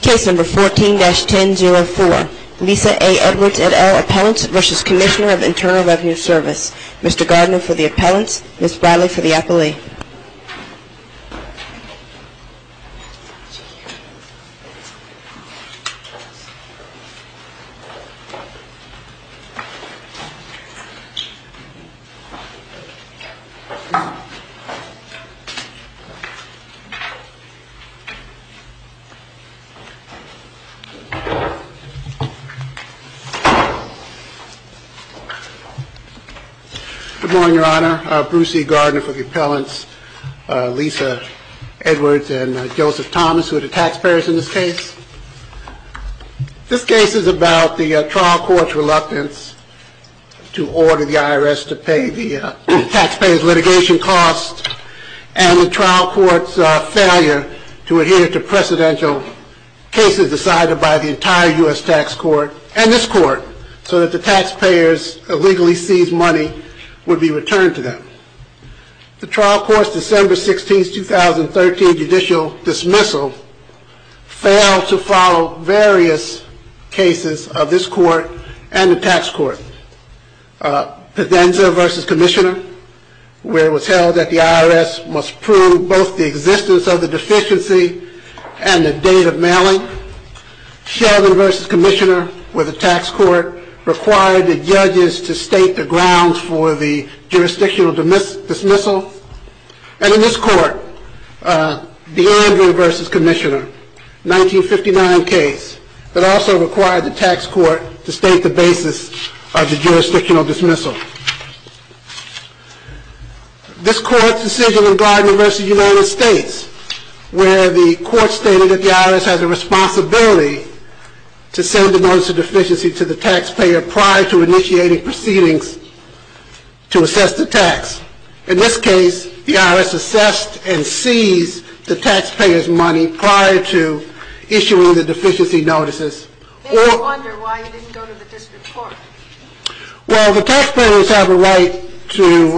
Service. Mr. Gardner for the appellants, Ms. Bradley for the appellee. Good morning, Your Honor. Bruce E. Gardner for the appellants, Lisa Edwards and Joseph Thomas, who are the taxpayers in this case. This case is about the trial court's reluctance to order the IRS to pay the taxpayers litigation costs and the trial court's failure to adhere to precedential cases decided by the entire U.S. tax court and this court so that the taxpayers' illegally seized money would be returned to them. The trial court's December 16, 2013 judicial dismissal failed to follow various cases of this court and the tax court. Pedenza v. Commissioner, where it was held that the IRS must prove both the existence of the deficiency and the date of mailing. Sheldon v. Commissioner, where the tax court required the judges to state the grounds for the jurisdictional dismissal. And in this court, DeAndre v. Commissioner, a 1959 case that also required the tax court to state the basis of the jurisdictional dismissal. This court's decision in Gardner v. United States, where the court stated that the IRS has a responsibility to send a notice of deficiency to the taxpayer prior to initiating proceedings to assess the tax. In this case, the IRS assessed and seized the taxpayer's money prior to issuing the deficiency notices. Then you wonder why you didn't go to the district court. Well, the taxpayers have a right to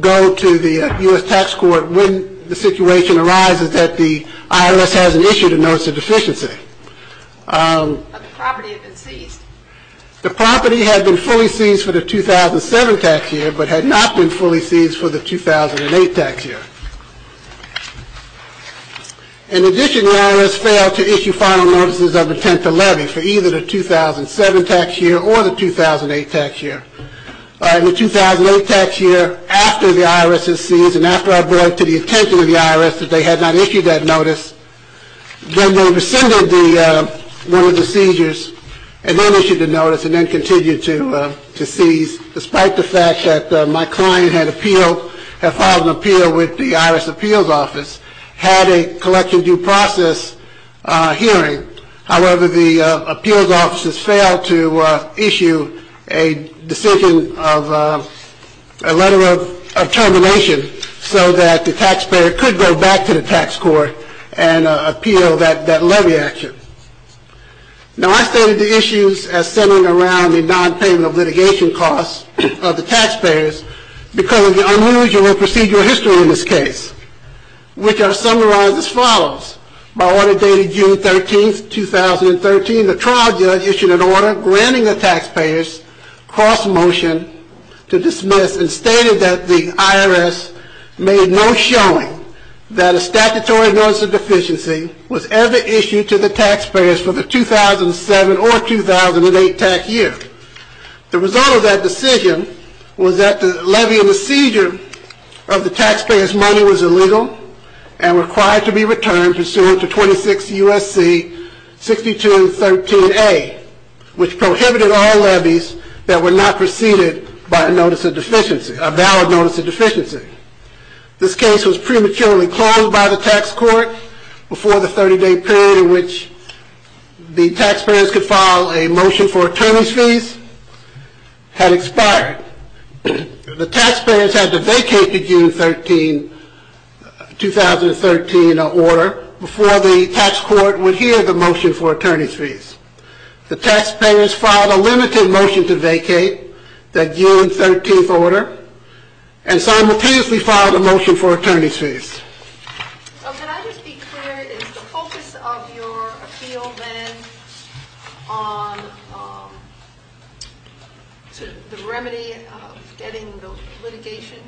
go to the U.S. tax court when the situation arises that the IRS hasn't issued a notice of deficiency. But the property had been seized. The property had been fully seized for the 2007 tax year, but had not been fully seized for the 2008 tax year. In addition, the IRS failed to issue final notices of intent to levy for either the 2007 tax year or the 2008 tax year. In the 2008 tax year, after the IRS had seized and after I brought it to the attention of Then they rescinded one of the seizures, and then issued a notice, and then continued to seize, despite the fact that my client had filed an appeal with the IRS appeals office, had a collection due process hearing. However, the appeals offices failed to issue a decision of a letter of termination so that the taxpayer could go back to the tax court and appeal that levy action. Now, I stated the issues as centering around the non-payment of litigation costs of the taxpayers because of the unusual procedural history in this case, which are summarized as follows. By order dated June 13, 2013, the trial judge issued an order granting the taxpayers cross-motion to dismiss and stated that the IRS made no showing that a statutory notice of deficiency was ever issued to the taxpayers for the 2007 or 2008 tax year. The result of that decision was that the levy and the seizure of the taxpayers' money was illegal and required to be returned pursuant to 26 U.S.C. 62.13a, which prohibited all by a notice of deficiency, a valid notice of deficiency. This case was prematurely closed by the tax court before the 30-day period in which the taxpayers could file a motion for attorney's fees had expired. The taxpayers had to vacate the June 13, 2013, order before the tax court would hear the motion for attorney's fees. The taxpayers filed a limited motion to vacate the June 13, 2013, order and simultaneously filed a motion for attorney's fees. Can I just be clear, is the focus of your appeal then on the remedy of getting the litigation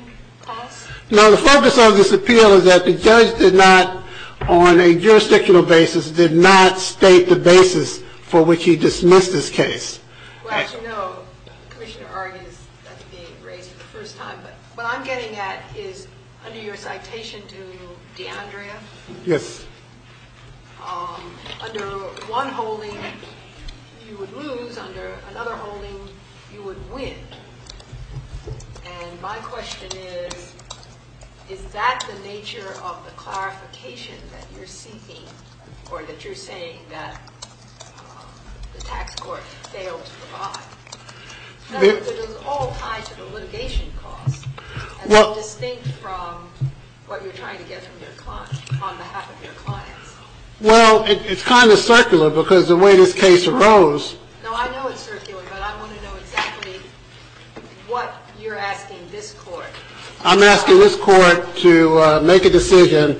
costs? No, the focus of this appeal is that the judge did not, on a jurisdictional basis, did not state the basis for which he dismissed this case. Well, as you know, Commissioner Argys, that's being raised for the first time, but what I'm getting at is, under your citation to D'Andrea, under one holding you would lose, under another holding you would win. And my question is, is that the nature of the clarification that you're seeking or that you're saying that the tax court failed to provide? It was all tied to the litigation costs. And that's distinct from what you're trying to get from your client, on behalf of your clients. Well, it's kind of circular because the way this case arose. No, I know it's circular, but I want to know exactly what you're asking this court. I'm asking this court to make a decision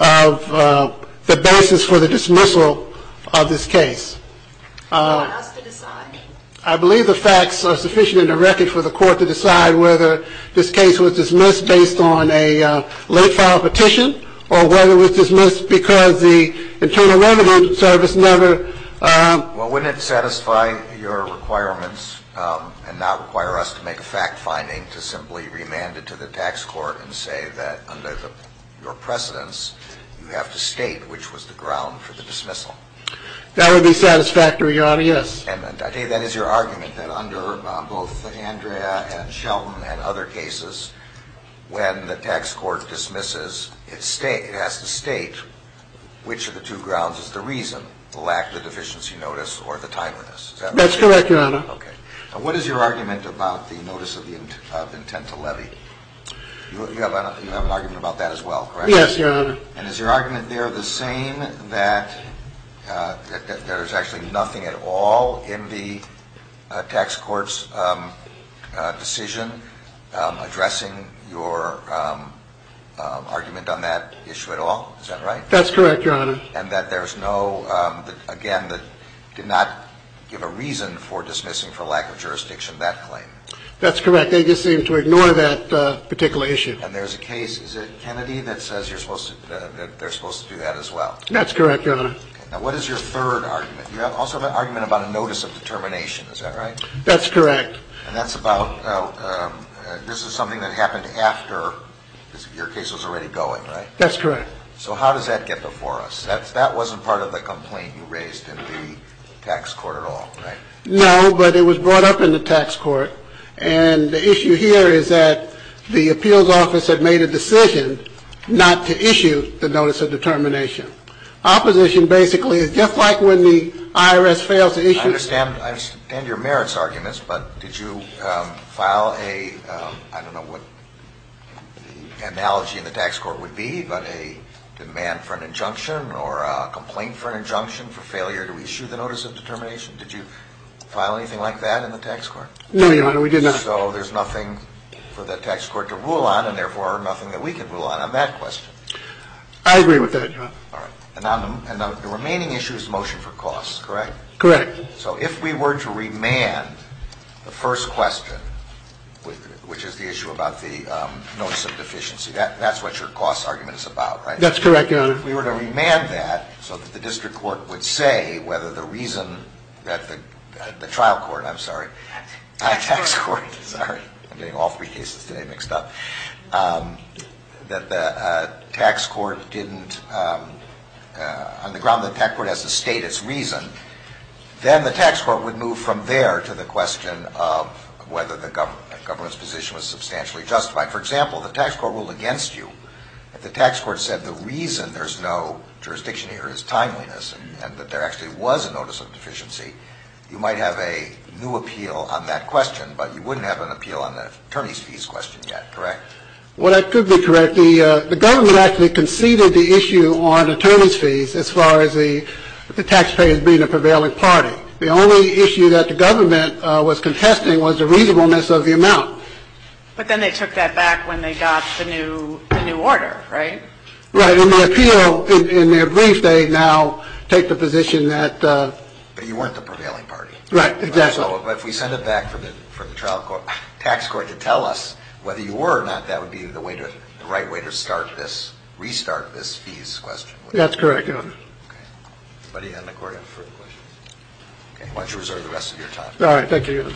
of the basis for the dismissal of this case. You want us to decide? I believe the facts are sufficient in the record for the court to decide whether this case was dismissed based on a late-filed petition, or whether it was dismissed because the Internal Revenue Service never... Well, wouldn't it satisfy your requirements and not require us to make a fact-finding to simply remand it to the tax court and say that, under your precedence, you have to state which was the ground for the dismissal? That would be satisfactory, Your Honor, yes. That is your argument, that under both Andrea and Shelton and other cases, when the tax court dismisses, it has to state which of the two grounds is the reason, the lack of the deficiency notice or the timeliness? That's correct, Your Honor. What is your argument about the notice of intent to levy? You have an argument about that as well, correct? Yes, Your Honor. And is your argument there the same, that there's actually nothing at all in the tax court's decision addressing your argument on that issue at all? That's correct, Your Honor. And that there's no, again, that did not give a reason for dismissing for lack of jurisdiction that claim? That's correct, they just seem to ignore that particular issue. And there's a case, is it Kennedy, that says they're supposed to do that as well? That's correct, Your Honor. Now what is your third argument? You also have an argument about a notice of determination, is that right? That's correct. And that's about, this is something that happened after your case was already going, right? That's correct. So how does that get before us? That wasn't part of the complaint you raised in the tax court at all, right? No, but it was brought up in the tax court, and the issue here is that the appeals office had made a decision not to issue the notice of determination. Opposition basically is just like when the IRS fails to issue... I understand your merits arguments, but did you file a, I don't know what the analogy in the tax court would be, but a demand for an injunction or a complaint for an injunction for failure to issue the notice of determination? Did you file anything like that in the tax court? No, Your Honor, we did not. So there's nothing for the tax court to rule on, and therefore, nothing that we can rule on on that question. I agree with that, Your Honor. And the remaining issue is the motion for costs, correct? Correct. So if we were to remand the first question, which is the issue about the notice of deficiency, that's what your costs argument is about, right? That's correct, Your Honor. If we were to remand that so that the district court would say whether the reason that the trial court, I'm sorry, the tax court, sorry, I'm getting all three cases today mixed up, that the tax court didn't, on the ground that the tax court has to state its reason, then the tax court would move from there to the question of whether the government's position was substantially justified. For example, the tax court ruled against you. If the tax court said the reason there's no jurisdiction here is timeliness and that there actually was a notice of deficiency, you might have a new appeal on that question, but you wouldn't have an appeal on the attorney's fees question yet, correct? Well, that could be correct. The government actually conceded the issue on attorney's fees as far as the taxpayer being a prevailing party. The only issue that the government was contesting was the reasonableness of the amount. But then they took that back when they got the new order, right? Right. In the appeal, in their brief, they now take the position that... But you weren't the prevailing party. Right, exactly. So if we send it back for the trial court, tax court to tell us whether you were or not, that would be the right way to restart this fees question. That's correct, Your Honor. Anybody in the court have further questions? Okay, why don't you reserve the rest of your time. All right, thank you, Your Honor.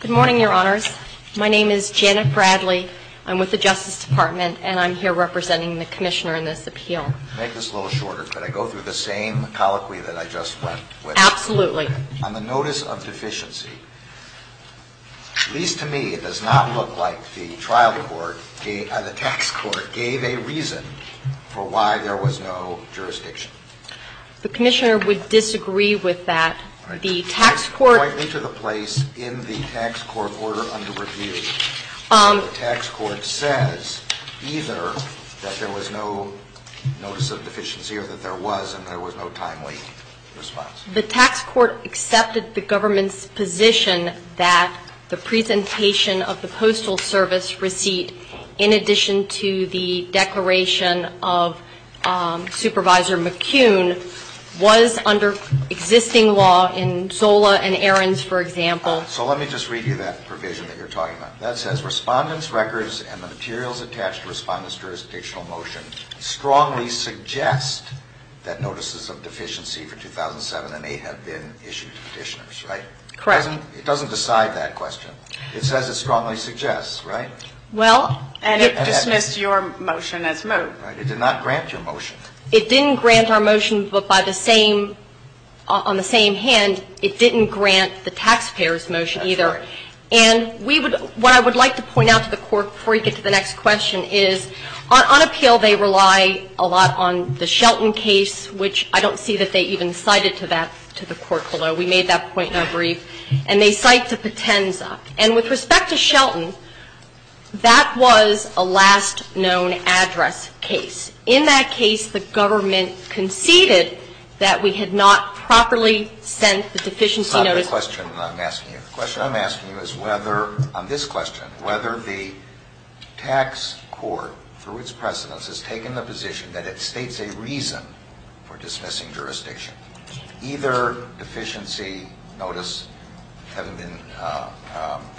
Good morning, Your Honors. My name is Janet Bradley. I'm with the Justice Department, and I'm here representing the Commissioner in this appeal. To make this a little shorter, could I go through the same colloquy that I just went with? Absolutely. On the notice of deficiency, at least to me, it does not look like the trial court, the tax court gave a reason for why there was no jurisdiction. The Commissioner would disagree with that. The tax court... Point me to the place in the tax court order under review where the tax court says either that there was no notice of deficiency or that there was and there was no timely response. The tax court accepted the government's position that the presentation of the Postal Service receipt in addition to the declaration of Supervisor McCune was under existing law in Zola and Ahrens, for example. So let me just read you that provision that you're talking about. That says, Respondents' records and the materials attached to Respondent's jurisdictional motion strongly suggest that notices of deficiency for 2007 and 2008 have been issued to petitioners, right? Correct. It doesn't decide that question. It says it strongly suggests, right? Well... And it dismissed your motion as moved. Right. It did not grant your motion. It didn't grant our motion, but on the same hand, it didn't grant the taxpayers' motion either. And what I would like to point out to the court before we get to the next question is on appeal, they rely a lot on the Shelton case, which I don't see that they even cited to that, to the court below. We made that point in our brief. And they cite to Patenza. And with respect to Shelton, that was a last known address case. In that case, the government conceded that we had not properly sent the deficiency notice. The question I'm asking you, the question I'm asking you is whether, on this question, whether the tax court, through its precedence, has taken the position that it states a reason for dismissing jurisdiction. Either deficiency notice having been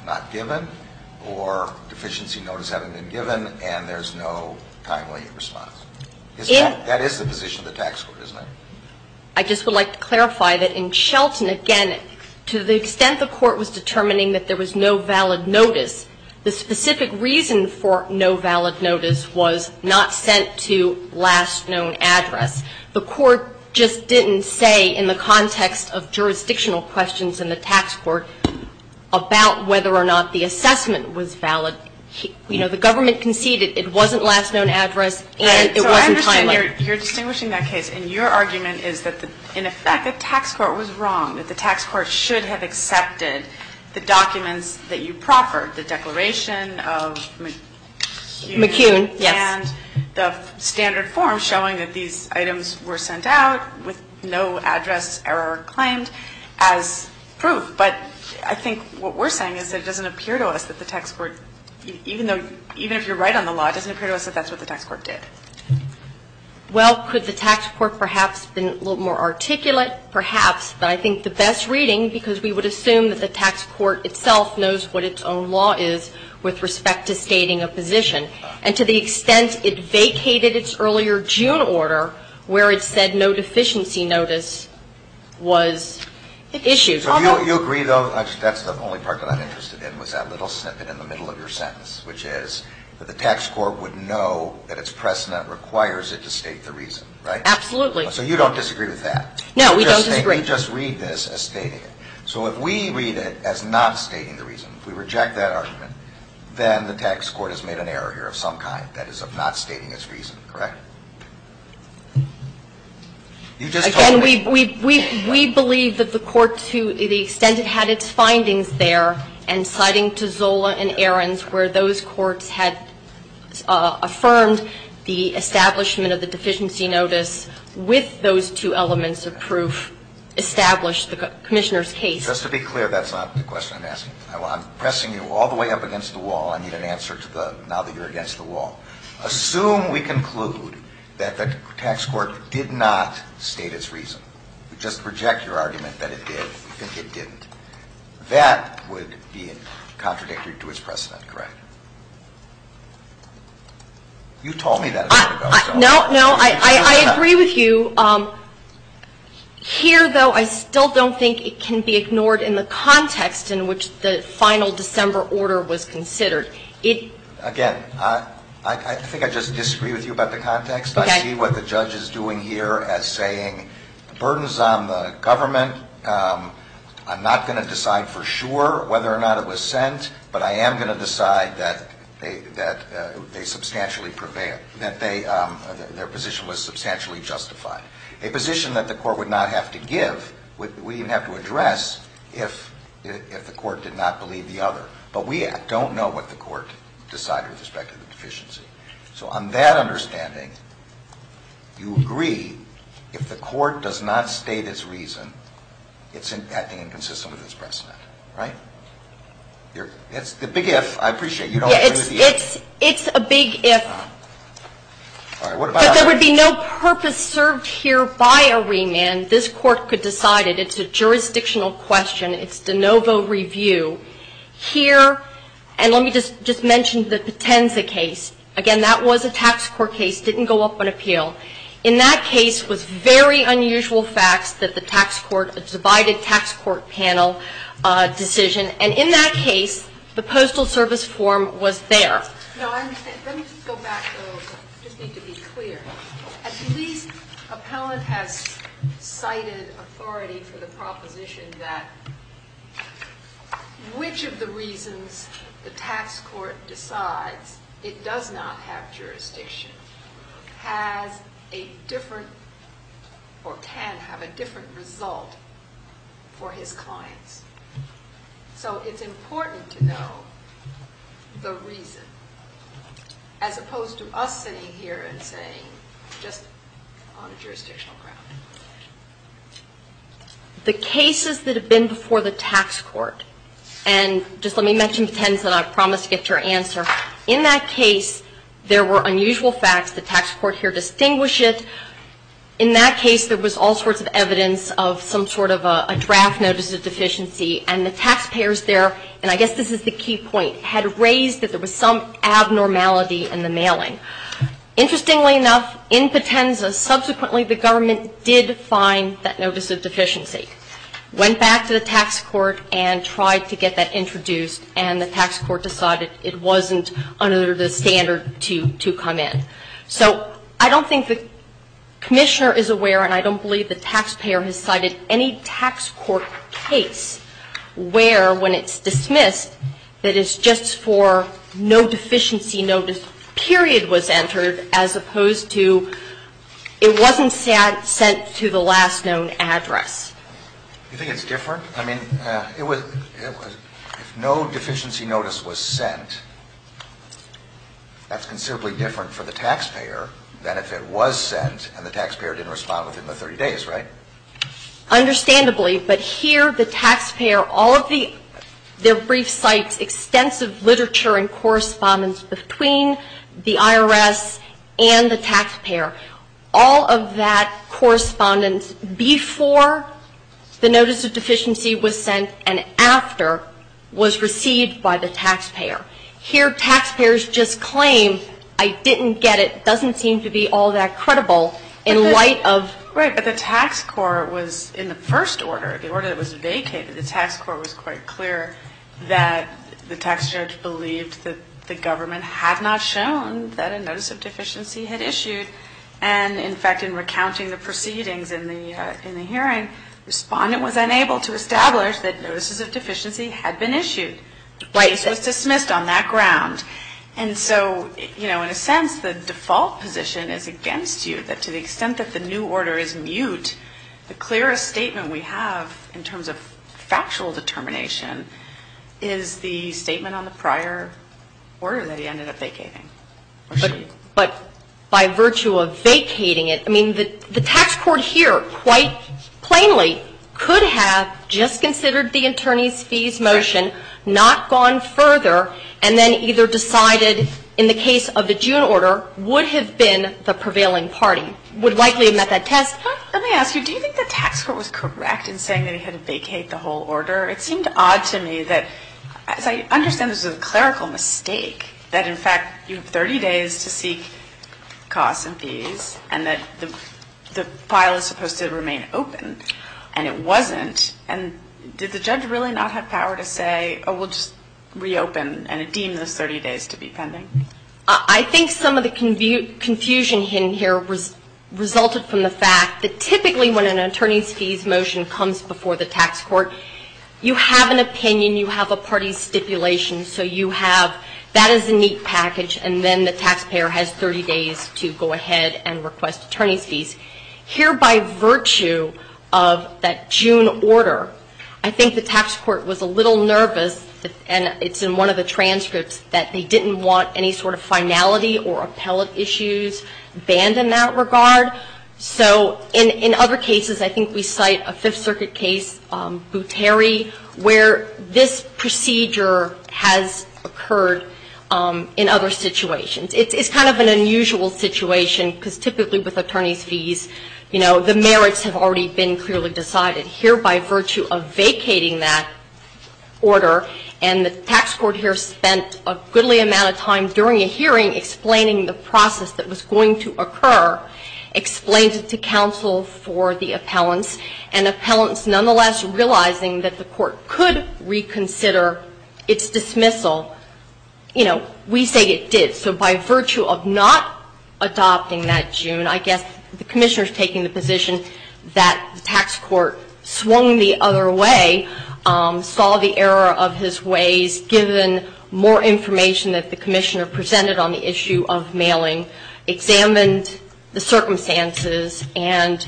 not given or deficiency notice having been given and there's no timely response. That is the position of the tax court, isn't it? I just would like to clarify that in Shelton, again, to the extent the court was determining that there was no valid notice, the specific reason for no valid notice was not sent to last known address. The court just didn't say, in the context of jurisdictional questions in the tax court, about whether or not the assessment was valid. You know, the government conceded it wasn't last known address and it wasn't timely. So I understand you're distinguishing that case and your argument is that, in effect, the tax court was wrong, that the tax court should have accepted the documents that you proffered, the Declaration of McCune. McCune, yes. And the standard form showing that these items were sent out with no address error claimed as proof. But I think what we're saying is that it doesn't appear to us that the tax court, even if you're right on the law, it doesn't appear to us that that's what the tax court did. Well, could the tax court perhaps have been a little more articulate? Perhaps. But I think the best reading, because we would assume that the tax court itself knows what its own law is with respect to stating a position. And to the extent it vacated its earlier June order, where it said no deficiency notice was issued. So you agree, though, that's the only part that I'm interested in, was that little snippet in the middle of your sentence, which is that the tax court would know that its precedent requires it to state the reason, right? Absolutely. So you don't disagree with that? No, we don't disagree. You just read this as stating it. So if we read it as not stating the reason, if we reject that argument, then the tax court has made an error here of some kind, that is, of not stating its reason, correct? Again, we believe that the court, to the extent it had its findings there, and Ahrens, where those courts had affirmed the establishment of the deficiency notice with those two elements of proof established the deficiency notice was not stated. That is not the commissioner's case. Just to be clear, that's not the question I'm asking. I'm pressing you all the way up against the wall. I need an answer now that you're against the wall. Assume we conclude that the tax court did not state its reason. We just reject your argument that it did. We think it didn't. That would be contradictory to its precedent, correct? You told me that a second ago. No, no, I agree with you. Here, though, I still don't think it can be ignored in the context in which the final December order was considered. Again, I think I just disagree with you about the context. I see what the judge is doing here as saying the burden is on the government. I'm not going to decide for sure whether or not it was sent, but I am going to decide that they substantially prevail. That their position was substantially justified. A position that the court would not have to give, would even have to address, if the court did not believe the other. But we don't know what the court decided with respect to the deficiency. So on that understanding, you agree with me if the court does not state its reason, it's acting inconsistent with its precedent, right? It's the big if, I appreciate it. It's a big if. If there would be no purpose served here by a remand, this court could decide it. It's a jurisdictional question. It's de novo review. Here, and let me just mention the Potenza case, again that was a tax court case, didn't go up on appeal. In that case, it was very unusual facts that the divided tax court panel decision, and in that case, the postal service form was there. Now, let me go back a little bit. I just need to be clear. A police appellant has cited authority for the proposition that which of the reasons the tax court decides it does not have jurisdiction has a different, or can have a different result for his clients. So, it's important to know the reason, as opposed to us sitting here and saying just on a jurisdictional ground. The cases that have been before the tax court, and just let me mention Potenza and I'll promise to get your answer. In that case, there was all sorts of evidence of some sort of a draft notice of deficiency and the taxpayers there, and I guess this is the key point, had raised that there was some abnormality in the mailing. Interestingly enough, in Potenza, subsequently, the government did find that notice of deficiency. Went back to the tax court and tried to get that introduced and the tax court decided it wasn't under the standard to come in. So, I don't think the commissioner is aware and I don't believe the taxpayer has cited any tax court case where when it's not standard to address. You think it's different? I mean, if no deficiency notice was sent, that's considerably different for the taxpayer than if it was sent and the taxpayer didn't respond within the 30 days, right? Understandably, but here the taxpayer all of the brief sites, extensive literature and correspondence between the IRS and the taxpayer, all of that correspondence before the notice of deficiency was sent and after was received by the taxpayer. Here, taxpayers just claim, I didn't get it, it doesn't seem to be all that credible in light of Right, but the tax court was in the first order, the order that was vacated, the tax court was quite clear that the tax judge believed that the government had not shown that a notice of deficiency had issued and in fact, in recounting the proceedings in the hearing, the respondent was unable to establish that notices of deficiency had been issued. It was dismissed on that ground and so, in a sense, the default position is against you that to the extent that the new order is mute, the clearest statement we have in terms of factual determination is the fact that the tax court here, quite plainly, could have just considered the attorney's fees motion, not gone further and then either decided in the case of the June order would have been the prevailing party, would have likely met that test. Let me ask you, do you think the tax court was correct in saying they had to vacate the whole order? It seemed odd to me that as I understand this was a clerical mistake that in fact you have 30 days to seek costs and fees and that the file is supposed to remain open and it wasn't and did the judge really not have power to say oh we'll just reopen and deem those 30 days to be pending? I think some of the confusion in here resulted from the fact that typically when an attorney's fees motion comes before the tax court, you have an opinion, you have a party stipulation, so you have, that is a neat package and then the taxpayer has 30 days to go ahead and request attorney's fees. Here by virtue of that June order, I think the tax court was a little nervous and it's in one of the transcripts that they didn't want any sort of finality or appellate issues banned in that regard. So in other cases I think we cite a Fifth Circuit case, Bouteri, where this procedure has occurred in other situations. It's kind of an unusual situation because typically with attorney's fees, you know, the merits have already been clearly decided. Here by virtue of vacating that order and the tax court here spent a goodly amount of time during a hearing explaining the process that was going to occur, explained it to counsel for the appellants, and the appellants nonetheless realizing that the court could reconsider its dismissal, you know, we say it did. So by virtue of not adopting that June, I guess the Commissioner is taking the position that the tax court swung the other way, saw the error of his ways, given more information that the Commissioner presented on the issue of mailing, examined the circumstances, and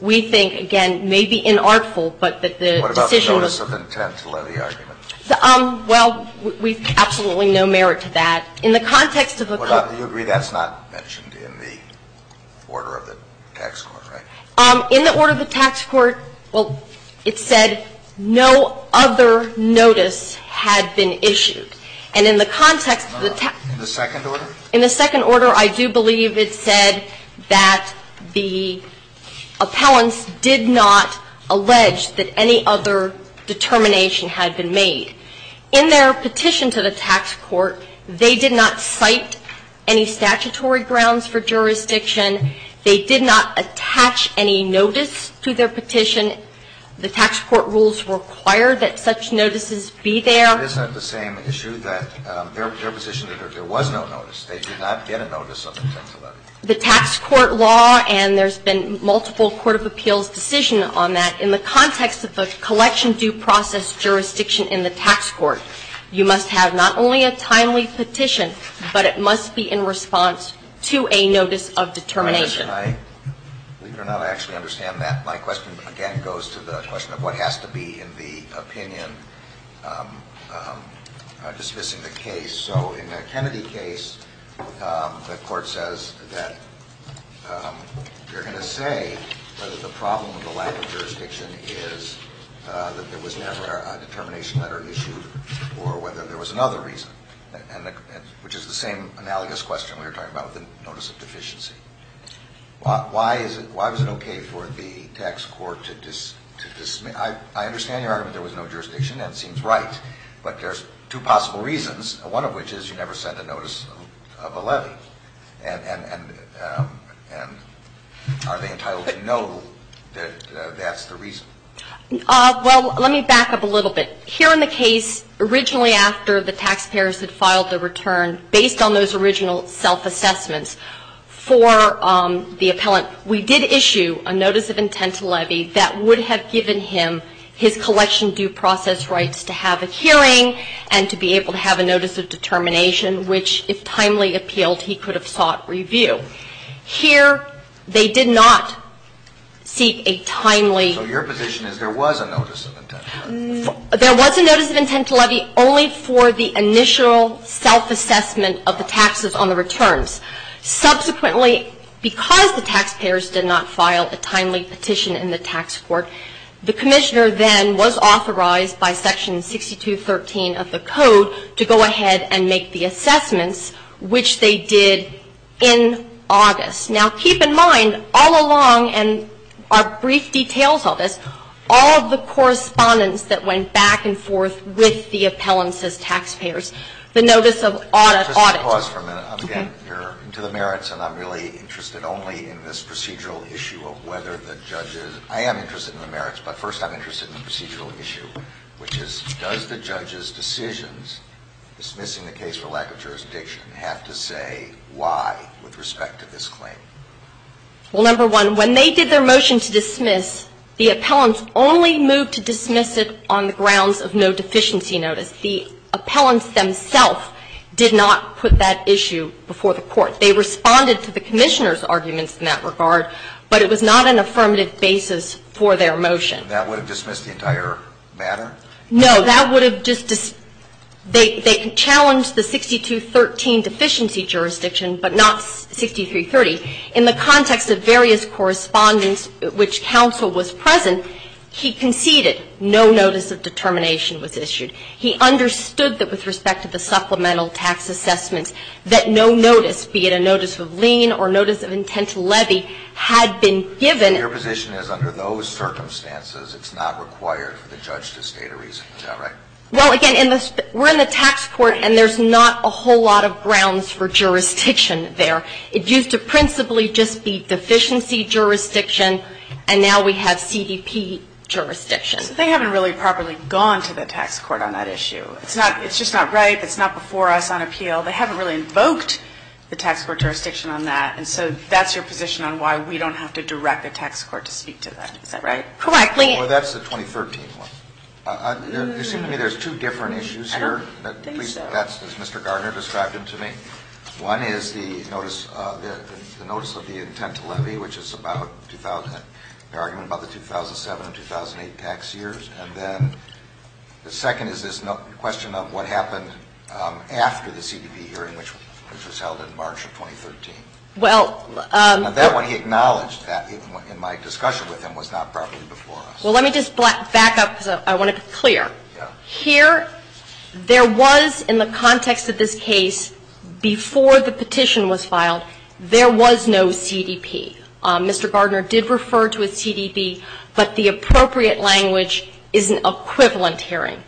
we think, again, may be inartful, but that the decision was What about the notice of intent to levy argument? Well, we have absolutely no merit to that. In the context of the court You agree that's not mentioned in the order of the tax court, right? In the order of the tax court, well, it said no other notice had been issued. And in the context of the In the second order? In the second order, I do believe it said that the appellants did not allege that any other determination had been made. In their petition to the tax court, they did not cite any statutory grounds for jurisdiction. They did not attach any notice to their petition. In addition, the tax court rules require that such notices be there. Isn't it the same issue that their position that there was no notice, they did not get a notice of intent to levy? The tax court law and there's been multiple court of appeals decision on that, in the context of the collection due process and the lack of jurisdiction in the tax court. You must have not only a timely petition, but it must be in response to a notice of determination. I believe it or not, I actually understand that. My question again goes to the question of what has to be in the opinion dismissing the case. So in your argument, the problem with the lack of jurisdiction is that there was never a determination letter issued or whether there was another reason, which is the same analogous question we were talking about with the notice of deficiency. Why was it okay for the tax court to dismiss? I understand your argument that there was no letter issued, but there are possible reasons, one of which is you never sent a notice of a levy. And are they entitled to know that that's the reason? Well, let me back up a little bit. Here in the case, originally after the taxpayers had filed the return based on those original self-assessments for the appellant, we did issue a notice of intent to levy that would have given him his collection due process rights to have a hearing and to be able to have a notice of determination, which if timely appealed he could have sought review. Here they did not seek a timely So your position is there was a notice of intent to levy? There was a notice of intent to levy only for the initial self-assessment of the taxes on the returns. Subsequently, because the taxpayers did not file a timely petition in the tax court, the commissioner then was authorized by section 62.13 of the code to go through all of the correspondence that went back and forth with the appellants as taxpayers. The notice of audit Just a pause for a minute. I'm again into the merits and I'm really interested only in this procedural issue of whether the judges I am interested in the merits, but first I'm interested in the procedural issue, which is does the judge's decisions dismissing the case for lack of jurisdiction have to say why with respect to this claim? Well, number one, when they did their motion to dismiss, the appellants only moved to dismiss it on the grounds of no deficiency notice. The appellants themselves did not put that issue before the Court. They responded to the Commissioner's arguments in that regard, but it was not an affirmative basis for their motion. That would have dismissed the entire matter? No. That would have just they challenged the 6213 deficiency jurisdiction, but not 6330. In the context of various correspondence which counsel was present, he conceded no notice of determination was issued. He understood that with respect to the supplemental tax assessment that no notice, be it a notice of lien or a notice of a tax assessment, would not be an affirmative basis for their motion. So that's your position on why we don't have to direct the tax court to speak to that. Is that right? Correctly. That's the question. I think so. That's as Mr. Gardner described it to me. One is the notice of the intent to levy, which is the argument about the 2007 and 2008 tax years, and then the second is this question of what happened after the CDP hearing which was in the context of this case before the petition was filed, there was no CDP. Mr. Gardner did refer to a CDP, but the appropriate language is an equivalent hearing.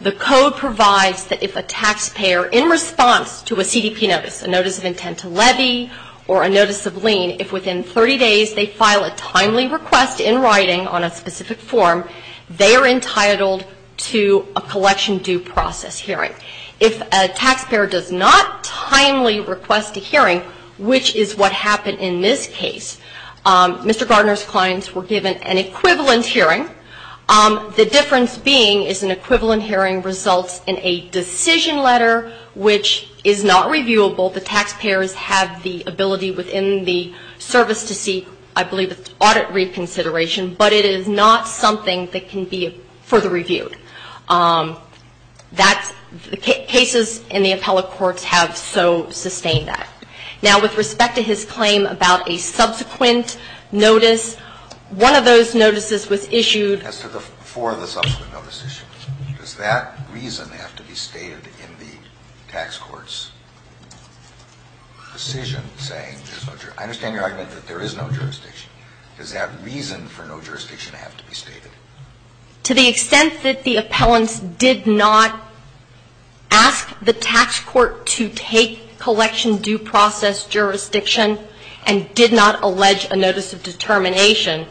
The code provides that if a taxpayer, in response to a CDP notice, a notice of intent to levy, or a notice of lien, if within 30 days they file a timely request in writing on a specific form, they are entitled to a collection due process hearing. If a taxpayer does not timely request a hearing, which is what happened in this case, Mr. Gardner's clients were given the service to seek I believe audit reconsideration, but it is not something that can be further reviewed. Cases in the appellate courts have so sustained that. Now with respect to his claim about a subsequent notice, one of those notices was issued by the tax court, and the tax court did not ask the tax court to take collection due process jurisdiction and did not allege a notice of determination.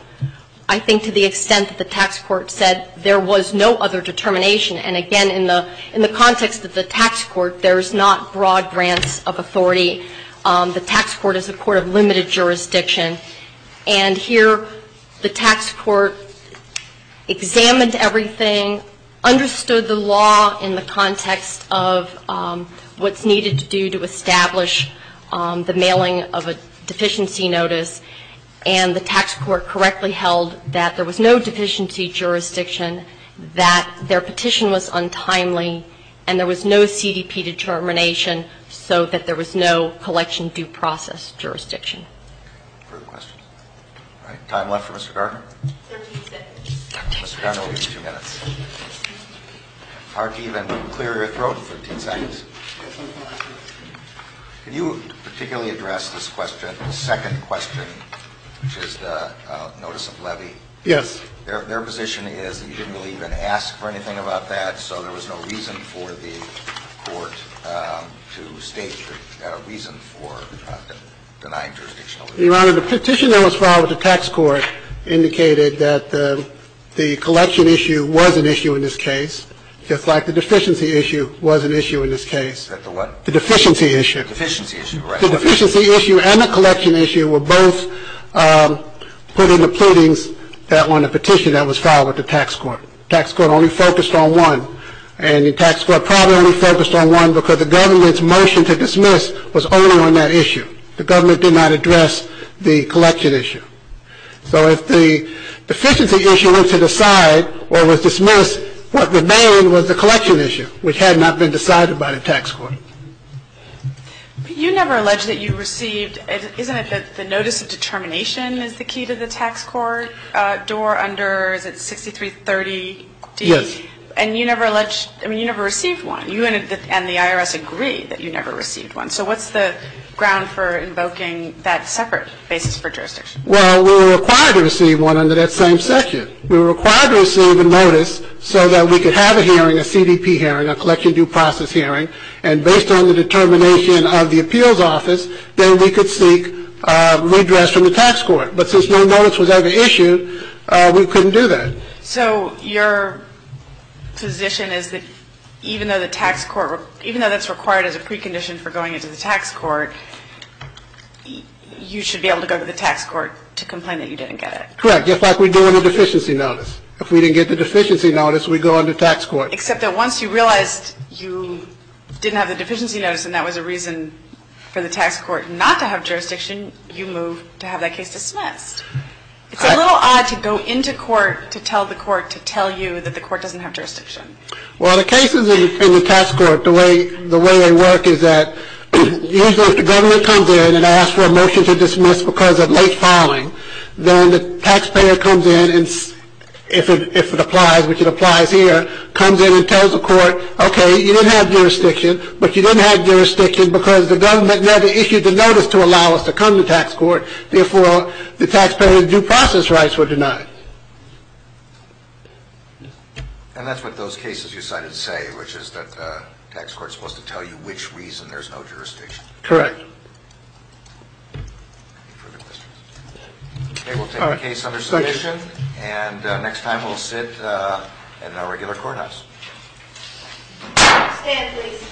I think to the extent that the tax court said there was no other determination, and again in the context of the tax court, there is not broad grants of authority. The tax court is a court of limited jurisdiction, and here the tax court examined everything, understood the law in the context of what's needed to do to establish the mailing of a deficiency notice, and the tax court correctly held that there was no deficiency jurisdiction, that their petition was untimely, and there was no CDP determination so that there was no collection due process jurisdiction. All right. Time left for Mr. Gardner? Mr. Gardner, we'll give you two minutes. It's hard to even clear your throat for 15 seconds. Can you particularly address this question, the second question, which is the notice of levy? Yes. Their position is that you didn't really even ask for anything about that, so there was no reason for the court to state a reason for denying jurisdiction. Your Honor, the petition that was filed with the tax court indicated that the collection issue was an issue in this case, just like the deficiency issue was an issue in this case. The deficiency issue and the collection issue were both put into pleadings on the petition that was filed with the tax court. The tax court only focused on one, and the tax court probably only focused on one because the government's motion to dismiss was only on that issue. The government did not address the collection issue. So if the deficiency issue was to decide or was dismissed, what remained was the collection issue, which had not been decided by the tax court. But you never alleged that you received, isn't it that the notice of determination is the key to the tax court door under 6330D? And you never received one, and the IRS agreed that you never received one. So what's the ground for invoking that separate basis for jurisdiction? Well, we were required to receive one under that same section. We were required to receive a notice so that we could have a hearing, a CDP hearing, a collection due process hearing, and based on the determination of the appeals office, then we could seek redress from the tax court. But since no notice was ever issued, we couldn't do that. So your position is that even though the tax court doesn't have jurisdiction, even though that's required as a precondition for going into the tax court, you should be able to go to the tax court to complain that you didn't get it. Correct. Just like we do in a deficiency notice. If we didn't get the deficiency notice, we go to the tax court. Except that once you realized you didn't have the deficiency notice and that was a reason for the tax court not to have jurisdiction, have that case dismissed. It's a little odd to go into court to tell the court to tell you that the court doesn't have jurisdiction. that? Well, the cases in the tax court, the way they work is that usually if the government comes in and asks for a motion to dismiss because of late filing, then the taxpayer comes in and if it applies, which it applies here, comes in and tells the court, okay, you didn't have jurisdiction, but you didn't have jurisdiction because the government issued the notice to allow us to come to tax court, therefore the taxpayer's due process rights were denied. And that's what those cases you cited say, which is that the tax court is supposed to tell you which reason there's no jurisdiction over, that's what the tax court does. Stand please.